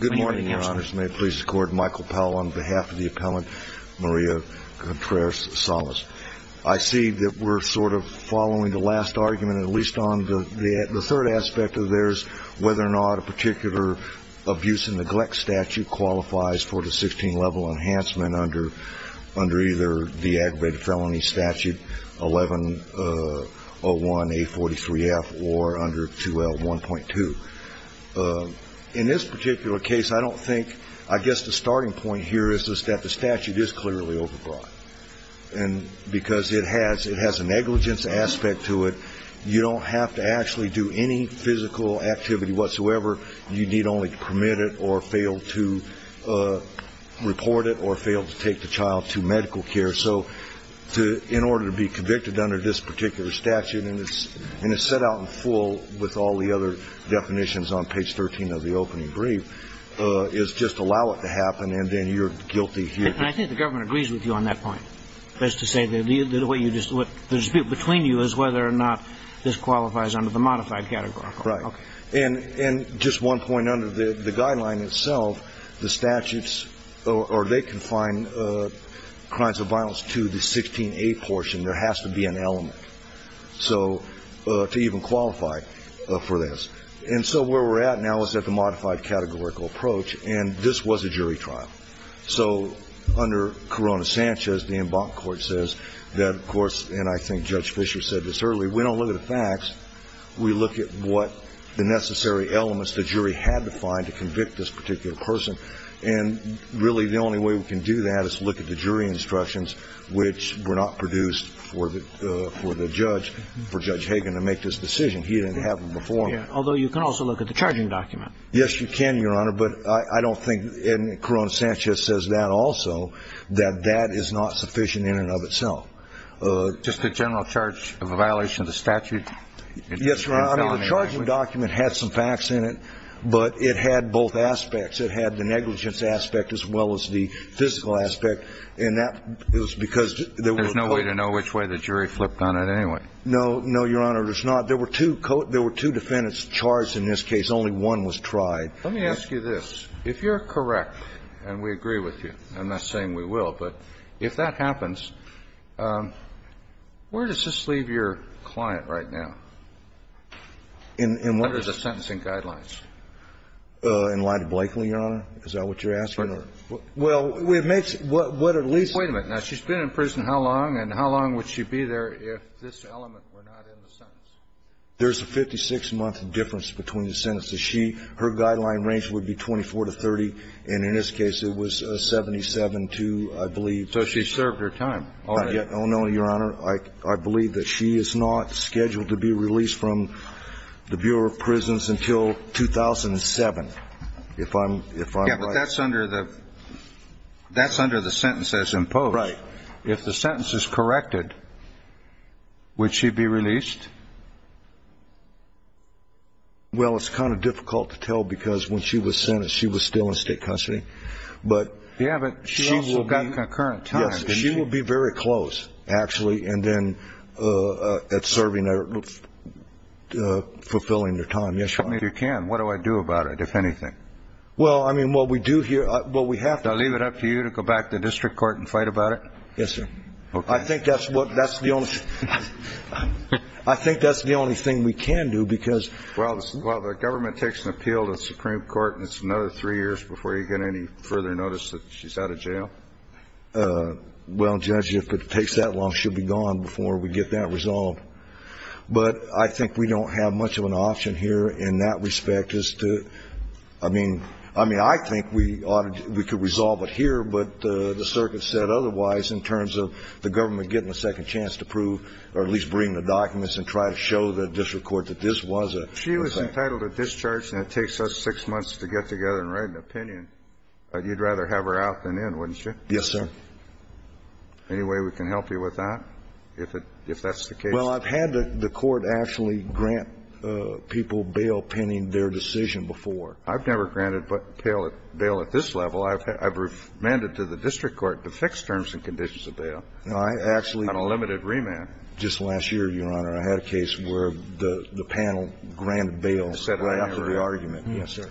Good morning, your honors. May it please the court, Michael Powell on behalf of the appellant Maria Contreras-salas. I see that we're sort of following the last argument, at least on the third aspect of theirs, whether or not a particular abuse and neglect statute qualifies for the 16-level enhancement under either the aggravated felony statute 1101A43F or under 2L1.2. In this particular case, I don't think – I guess the starting point here is that the statute is clearly overbroad. And because it has a negligence aspect to it, you don't have to actually do any physical activity whatsoever. You need only to permit it or fail to report it or fail to take the child to medical care. So to – in order to be convicted under this particular statute, and it's set out in full with all the other definitions on page 13 of the opening brief, is just allow it to happen and then you're guilty here. And I think the government agrees with you on that point. That is to say, the way you just – the dispute between you is whether or not this qualifies under the modified categorical. Right. Okay. And just one point. Under the guideline itself, the statutes – or they confine crimes of violence to the 16A portion. There has to be an element. So – to even qualify for this. And so where we're at now is at the modified categorical approach, and this was a jury trial. So under Corona-Sanchez, the Embankment Court says that, of course – and I think Judge Fischer said this earlier We don't look at the facts. We look at what – the necessary elements the jury had to find to convict this particular person. And really, the only way we can do that is to look at the jury instructions, which were not produced for the judge – for Judge Hagan to make this decision. He didn't have them before. Although you can also look at the charging document. Yes, you can, Your Honor. But I don't think – and Corona-Sanchez says that also, that that is not sufficient in and of itself. Just the general charge of a violation of the statute? Yes, Your Honor. I mean, the charging document had some facts in it, but it had both aspects. It had the negligence aspect as well as the physical aspect, and that was because There's no way to know which way the jury flipped on it anyway. No. No, Your Honor, there's not. There were two defendants charged in this case. Only one was tried. Let me ask you this. If you're correct, and we agree with you, and that's saying we will, but if that happens, where does this leave your client right now under the sentencing guidelines? In line to Blakely, Your Honor? Is that what you're asking? Well, it makes – what at least – Wait a minute. Now, she's been in prison how long, and how long would she be there if this element were not in the sentence? There's a 56-month difference between the sentences. She – her guideline range would be 24 to 30, and in this case it was 77 to, I believe So she served her time. Not yet. Oh, no, Your Honor. I believe that she is not scheduled to be released from the Bureau of Prisons until 2007. If I'm – if I'm right. Yeah, but that's under the – that's under the sentence that's imposed. Right. If the sentence is corrected, would she be released? Well, it's kind of difficult to tell because when she was sentenced, she was still in state custody. But – Yeah, but she's got concurrent time. Yes. She will be very close, actually, and then at serving her – fulfilling her time. Yes, Your Honor. If you can, what do I do about it, if anything? Well, I mean, what we do here – what we have to – Do I leave it up to you to go back to the district court and fight about it? Yes, sir. Okay. I think that's what – that's the only – I think that's the only thing we can do because – Well, the government takes an appeal to the Supreme Court and it's another three years before you get any further notice that she's out of jail. Well, Judge, if it takes that long, she'll be gone before we get that resolved. But I think we don't have much of an option here in that respect as to – I mean – I mean, I think we ought to – we could resolve it here, but the circuit said otherwise in terms of the government getting a second chance to prove or at least bring the documents and try to show the district court that this was a – If she was entitled to discharge and it takes us six months to get together and write an opinion, you'd rather have her out than in, wouldn't you? Yes, sir. Any way we can help you with that, if that's the case? Well, I've had the court actually grant people bail pending their decision before. I've never granted bail at this level. I've remanded to the district court to fix terms and conditions of bail. No, I actually – On a limited remand. Just last year, Your Honor, I had a case where the panel granted bail right after the argument. Yes, sir.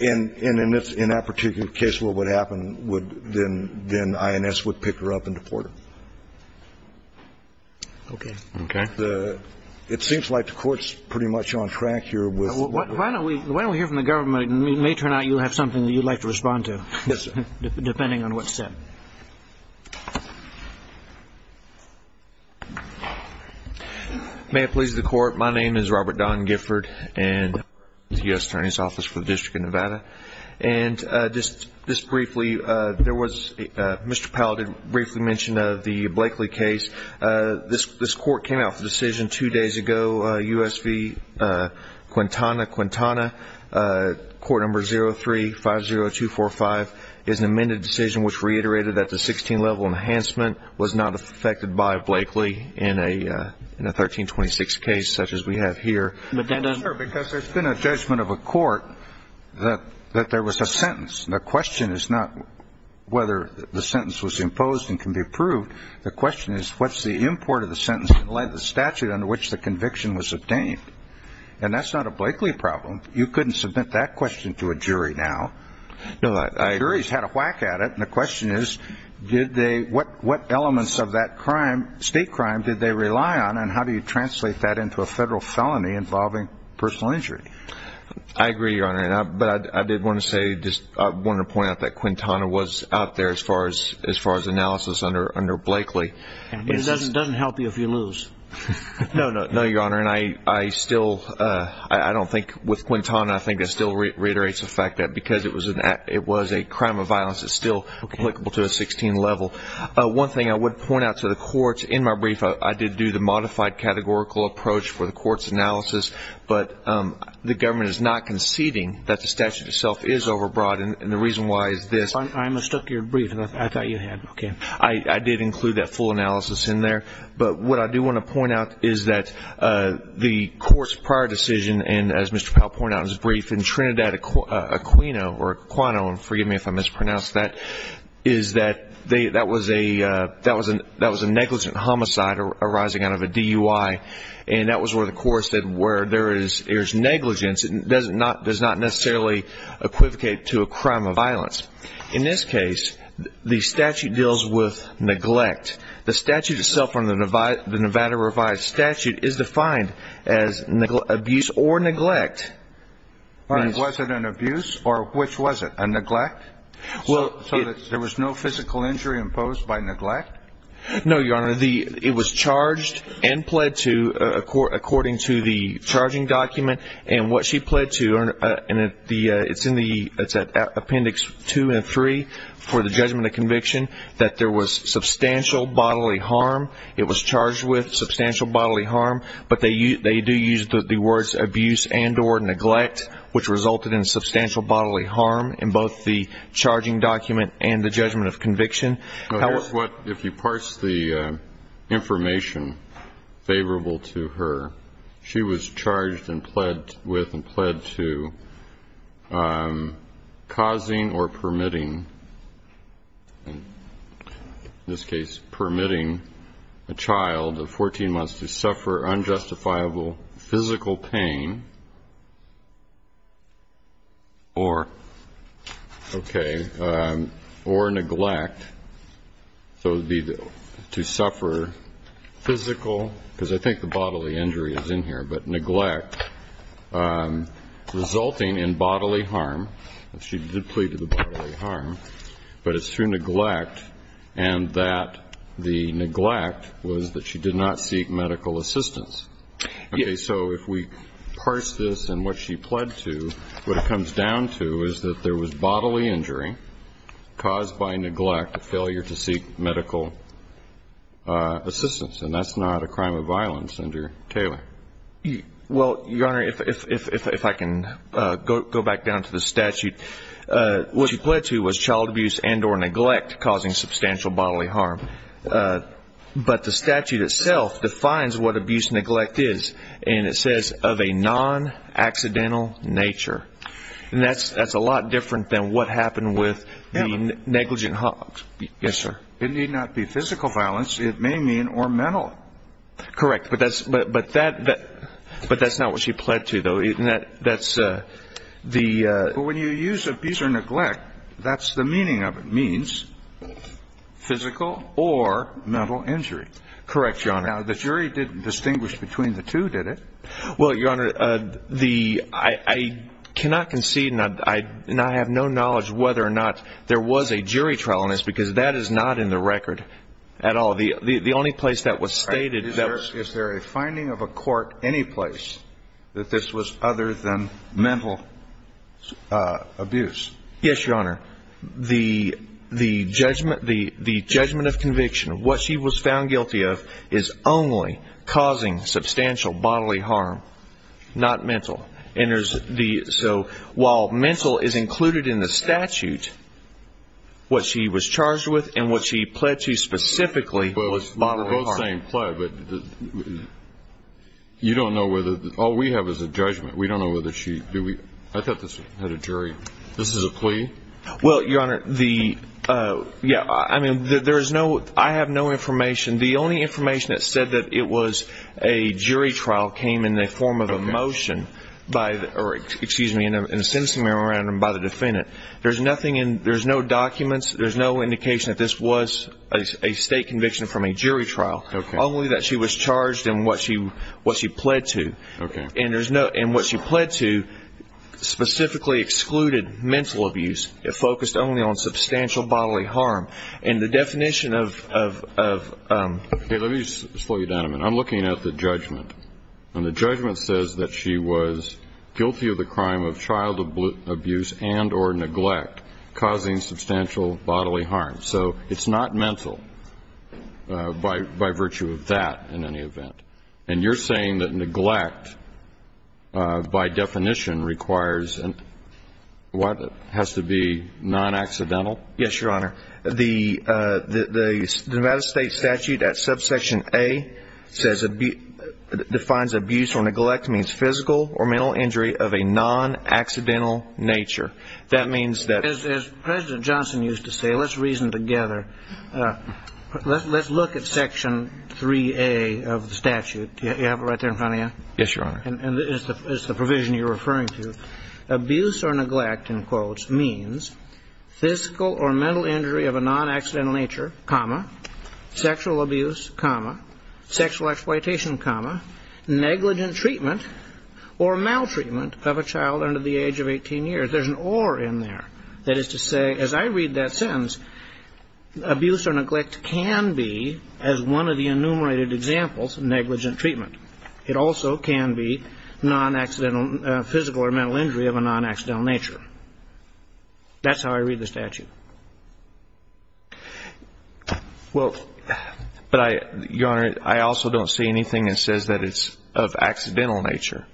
And in that particular case, what would happen would – then INS would pick her up and deport her. Okay. Okay. It seems like the Court's pretty much on track here with – Why don't we hear from the government? It may turn out you have something that you'd like to respond to. Yes, sir. Depending on what's said. May it please the Court. My name is Robert Don Gifford and I'm with the U.S. Attorney's Office for the District of Nevada. And just briefly, there was – Mr. Powell did briefly mention the Blakely case. This Court came out with a decision two days ago, U.S. v. Quintana. Quintana, Court Number 03-50245, is an amended decision which reiterated that the 16-level enhancement was not affected by Blakely in a 1326 case such as we have here. But that doesn't – No, sir, because there's been a judgment of a court that there was a sentence. The question is not whether the sentence was imposed and can be approved. The question is, what's the import of the sentence in light of the statute under which the conviction was obtained? And that's not a Blakely problem. You couldn't submit that question to a jury now. No, I – The jury's had a whack at it. And the question is, did they – what elements of that crime, state crime, did they rely on? And how do you translate that into a federal felony involving personal injury? I agree, Your Honor. But I did want to say – I wanted to point out that Quintana was out there as far as analysis under Blakely. It doesn't help you if you lose. No, Your Honor. And I still – I don't think with Quintana, I think it still reiterates the fact that because it was a crime of violence, it's still applicable to a 16-level. One thing I would point out to the courts, in my brief, I did do the modified categorical approach for the court's analysis. But the government is not conceding that the statute itself is overbroad. And the reason why is this. I mistook your brief. I thought you had. Okay. I did include that full analysis in there. But what I do want to point out is that the court's prior decision, and as Mr. Powell pointed out in his brief, in Trinidad Aquino – or Aquino, forgive me if I mispronounced that – is that that was a negligent homicide arising out of a DUI. And that was where the court said where there is negligence, it does not necessarily equivocate to a crime of violence. In this case, the statute deals with neglect. The statute itself, the Nevada revised statute, is defined as abuse or neglect. Was it an abuse? Or which was it, a neglect? So there was no physical injury imposed by neglect? No, Your Honor. It was charged and pled to according to the charging document. And what she pled to, and it's in Appendix 2 and 3 for the judgment of conviction, that there was substantial bodily harm. It was charged with substantial bodily harm, but they do use the words abuse and or neglect, which resulted in substantial bodily harm in both the charging document and the judgment of conviction. If you parse the information favorable to her, she was charged with and pled to causing or permitting, in this case permitting, a child of 14 months to suffer unjustifiable physical pain or neglect. So it would be to suffer physical, because I think the bodily injury is in here, but neglect resulting in bodily harm. She did plead to the bodily harm. But it's through neglect and that the neglect was that she did not seek medical assistance. Okay. So if we parse this and what she pled to, what it comes down to is that there was bodily injury caused by neglect, a failure to seek medical assistance. And that's not a crime of violence under Taylor. Well, Your Honor, if I can go back down to the statute. What she pled to was child abuse and or neglect causing substantial bodily harm. But the statute itself defines what abuse and neglect is, and it says of a non-accidental nature. And that's a lot different than what happened with the negligent hogs. Yes, sir. It need not be physical violence. It may mean or mental. Correct. But that's not what she pled to, though. And that's the ---- But when you use abuse or neglect, that's the meaning of it. It means physical or mental injury. Correct, Your Honor. Now, the jury didn't distinguish between the two, did it? Well, Your Honor, the ---- I cannot concede and I have no knowledge whether or not there was a jury trial on this, because that is not in the record at all. The only place that was stated that was ---- Other than mental abuse. Yes, Your Honor. The judgment of conviction, what she was found guilty of, is only causing substantial bodily harm, not mental. So while mental is included in the statute, what she was charged with and what she pled to specifically was bodily harm. It's the same plea, but you don't know whether ---- All we have is a judgment. We don't know whether she ---- I thought this had a jury. This is a plea? Well, Your Honor, the ---- Yeah, I mean, there is no ---- I have no information. The only information that said that it was a jury trial came in the form of a motion by the ---- or excuse me, in a sentencing memorandum by the defendant. There's nothing in ---- There's no documents. There's no indication that this was a state conviction from a jury trial. Okay. Only that she was charged in what she pled to. Okay. And there's no ---- And what she pled to specifically excluded mental abuse. It focused only on substantial bodily harm. And the definition of ---- Let me slow you down a minute. I'm looking at the judgment. And the judgment says that she was guilty of the crime of child abuse and or neglect, causing substantial bodily harm. So it's not mental by virtue of that in any event. And you're saying that neglect by definition requires and has to be non-accidental? Yes, Your Honor. The Nevada State statute at subsection A says defines abuse or neglect means physical or mental injury of a non-accidental nature. That means that ---- As President Johnson used to say, let's reason together. Let's look at section 3A of the statute. Do you have it right there in front of you? Yes, Your Honor. And it's the provision you're referring to. Abuse or neglect, in quotes, means physical or mental injury of a non-accidental nature, comma, sexual abuse, comma, sexual exploitation, comma, negligent treatment or maltreatment of a child under the age of 18 years. There's an or in there. That is to say, as I read that sentence, abuse or neglect can be, as one of the enumerated examples, negligent treatment. It also can be non-accidental, physical or mental injury of a non-accidental nature. That's how I read the statute. Well, but I, Your Honor, I also don't see anything that says that it's of accidental nature.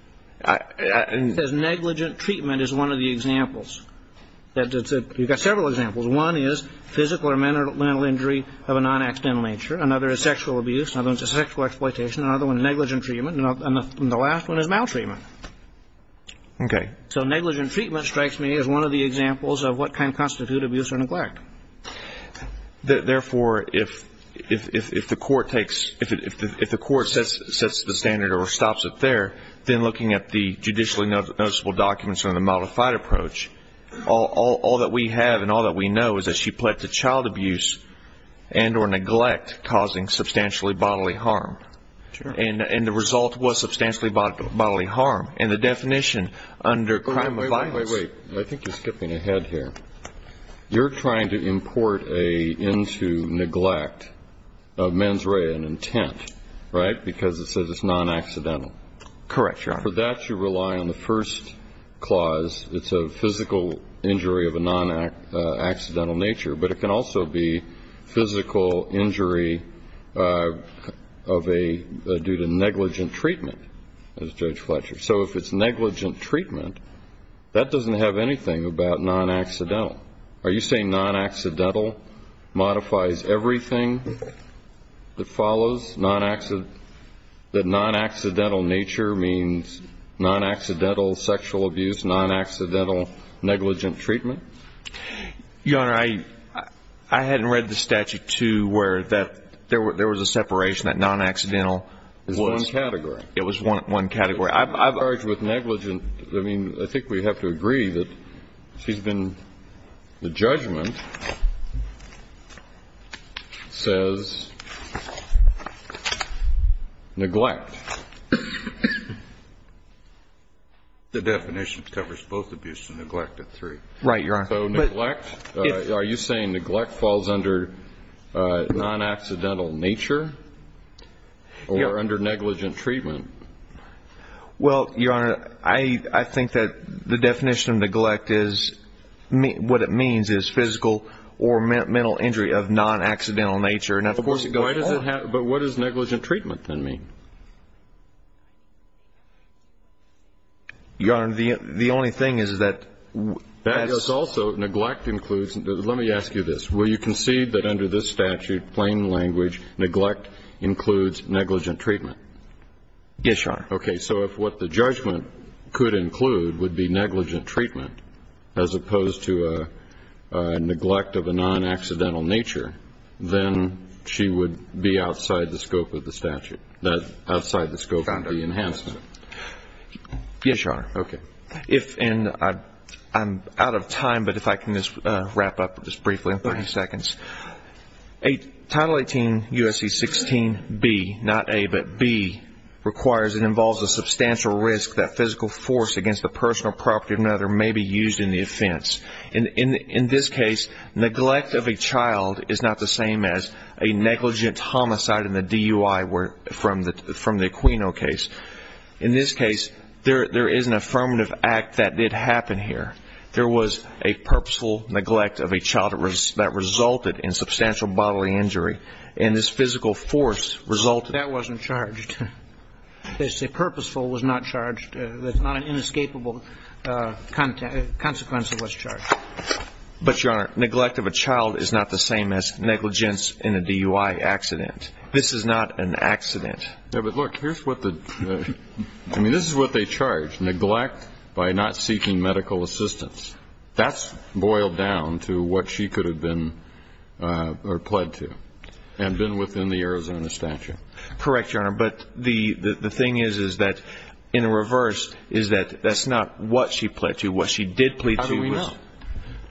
It says negligent treatment is one of the examples. You've got several examples. One is physical or mental injury of a non-accidental nature. Another is sexual abuse. Another one is sexual exploitation. Another one is negligent treatment. And the last one is maltreatment. Okay. So negligent treatment strikes me as one of the examples of what can constitute abuse or neglect. Therefore, if the court takes ‑‑ if the court sets the standard or stops it there, then looking at the judicially noticeable documents and the modified approach, all that we have and all that we know is that she pled to child abuse and or neglect causing substantially bodily harm. Sure. And the result was substantially bodily harm. And the definition under crime of violence ‑‑ Wait, wait, wait. I think you're skipping ahead here. You're trying to import into neglect a mens rea, an intent, right, because it says it's non-accidental. Correct, Your Honor. For that, you rely on the first clause. It's a physical injury of a non-accidental nature. But it can also be physical injury of a ‑‑ due to negligent treatment, as Judge Fletcher. So if it's negligent treatment, that doesn't have anything about non-accidental. Are you saying non-accidental modifies everything that follows, that non-accidental nature means non-accidental sexual abuse, non-accidental negligent treatment? Your Honor, I hadn't read the statute, too, where there was a separation, that non-accidental. It was one category. It was one category. I've argued with negligent. I mean, I think we have to agree that she's been ‑‑ the judgment says neglect. The definition covers both abuse and neglect at three. Right, Your Honor. So neglect, are you saying neglect falls under non-accidental nature or under negligent treatment? Well, Your Honor, I think that the definition of neglect is what it means is physical or mental injury of non-accidental nature. But what does negligent treatment then mean? Your Honor, the only thing is that ‑‑ Also, neglect includes ‑‑ let me ask you this. Will you concede that under this statute, plain language, neglect includes negligent treatment? Yes, Your Honor. Okay. So if what the judgment could include would be negligent treatment as opposed to a neglect of a non-accidental nature, then she would be outside the scope of the statute. Outside the scope of the enhancement. Yes, Your Honor. Okay. And I'm out of time, but if I can just wrap up just briefly in 30 seconds. Title 18 U.S.C. 16B, not A, but B, requires and involves a substantial risk that physical force against the personal property of another may be used in the offense. In this case, neglect of a child is not the same as a negligent homicide in the DUI from the Aquino case. In this case, there is an affirmative act that did happen here. There was a purposeful neglect of a child that resulted in substantial bodily injury, and this physical force resulted. That wasn't charged. They say purposeful was not charged. That's not an inescapable consequence of what's charged. But, Your Honor, neglect of a child is not the same as negligence in a DUI accident. This is not an accident. Yeah, but look, here's what the ñ I mean, this is what they charge, neglect by not seeking medical assistance. That's boiled down to what she could have been or pled to and been within the Arizona statute. Correct, Your Honor. But the thing is, is that in a reverse, is that that's not what she pled to. What she did plead to was ñ How do we know?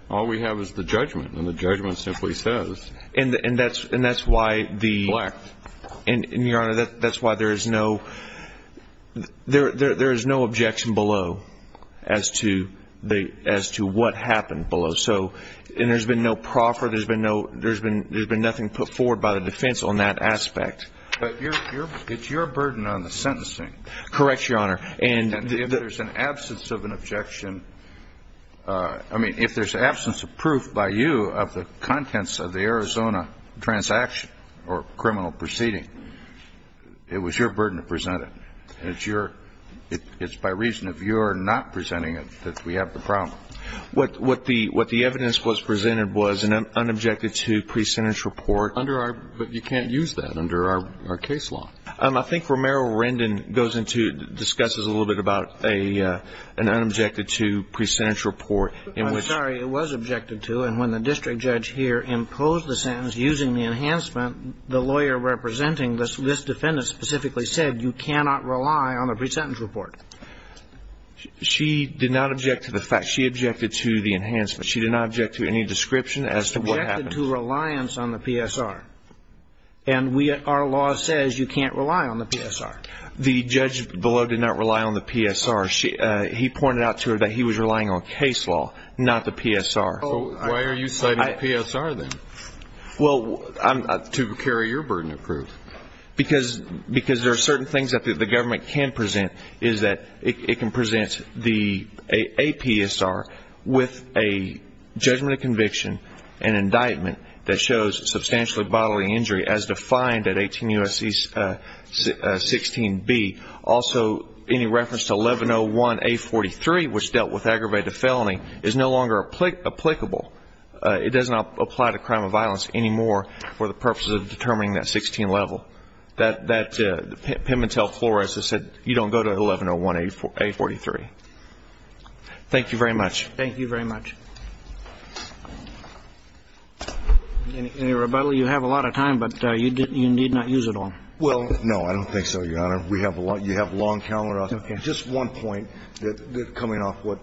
All we have is the judgment, and the judgment simply says neglect. And, Your Honor, that's why there is no objection below as to what happened below. So, and there's been no proffer. There's been nothing put forward by the defense on that aspect. But it's your burden on the sentencing. Correct, Your Honor. And if there's an absence of an objection, I mean, if there's absence of proof by you of the contents of the Arizona transaction or criminal proceeding, it was your burden to present it. And it's your ñ it's by reason of your not presenting it that we have the problem. What the evidence was presented was an unobjected to pre-sentence report. Under our ñ but you can't use that under our case law. I think Romero-Rendon goes into ñ discusses a little bit about an unobjected to pre-sentence report in which ñ I'm sorry. It was objected to. And when the district judge here imposed the sentence using the enhancement, the lawyer representing this defendant specifically said you cannot rely on the pre-sentence report. She did not object to the fact ñ she objected to the enhancement. She did not object to any description as to what happened. She objected to reliance on the PSR. And we ñ our law says you can't rely on the PSR. The judge below did not rely on the PSR. She ñ he pointed out to her that he was relying on case law, not the PSR. Why are you citing the PSR then? Well, I'm ñ To carry your burden of proof. Because there are certain things that the government can present is that it can present the ñ with a judgment of conviction and indictment that shows substantially bodily injury as defined at 18 U.S.C. 16B. Also, any reference to 1101A43, which dealt with aggravated felony, is no longer applicable. It does not apply to crime of violence anymore for the purposes of determining that 16 level. That Pimentel-Flores has said you don't go to 1101A43. Thank you very much. Thank you very much. Any rebuttal? You have a lot of time, but you need not use it all. Well, no, I don't think so, Your Honor. We have a lot ñ you have a long calendar. Okay. Just one point that ñ coming off what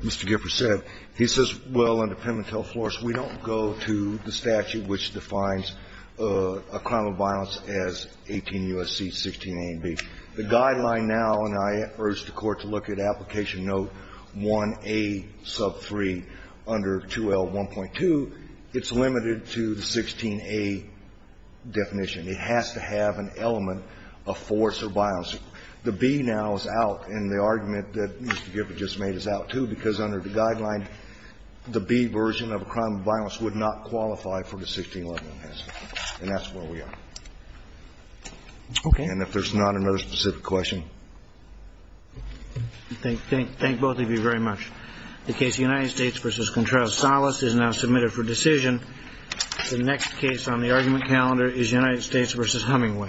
Mr. Giffords said. He says, well, under Pimentel-Flores, we don't go to the statute which defines a crime of violence as 18 U.S.C. 16A and B. The guideline now ñ and I urge the Court to look at application note 1A sub 3 under 2L1.2. It's limited to the 16A definition. It has to have an element of force or violence. The B now is out, and the argument that Mr. Giffords just made is out, too, because under the guideline, the B version of a crime of violence would not qualify for the 1611. And that's where we are. Okay. And if there's not another specific question. Thank both of you very much. The case United States v. Contreras-Salas is now submitted for decision. The next case on the argument calendar is United States v. Hummingway.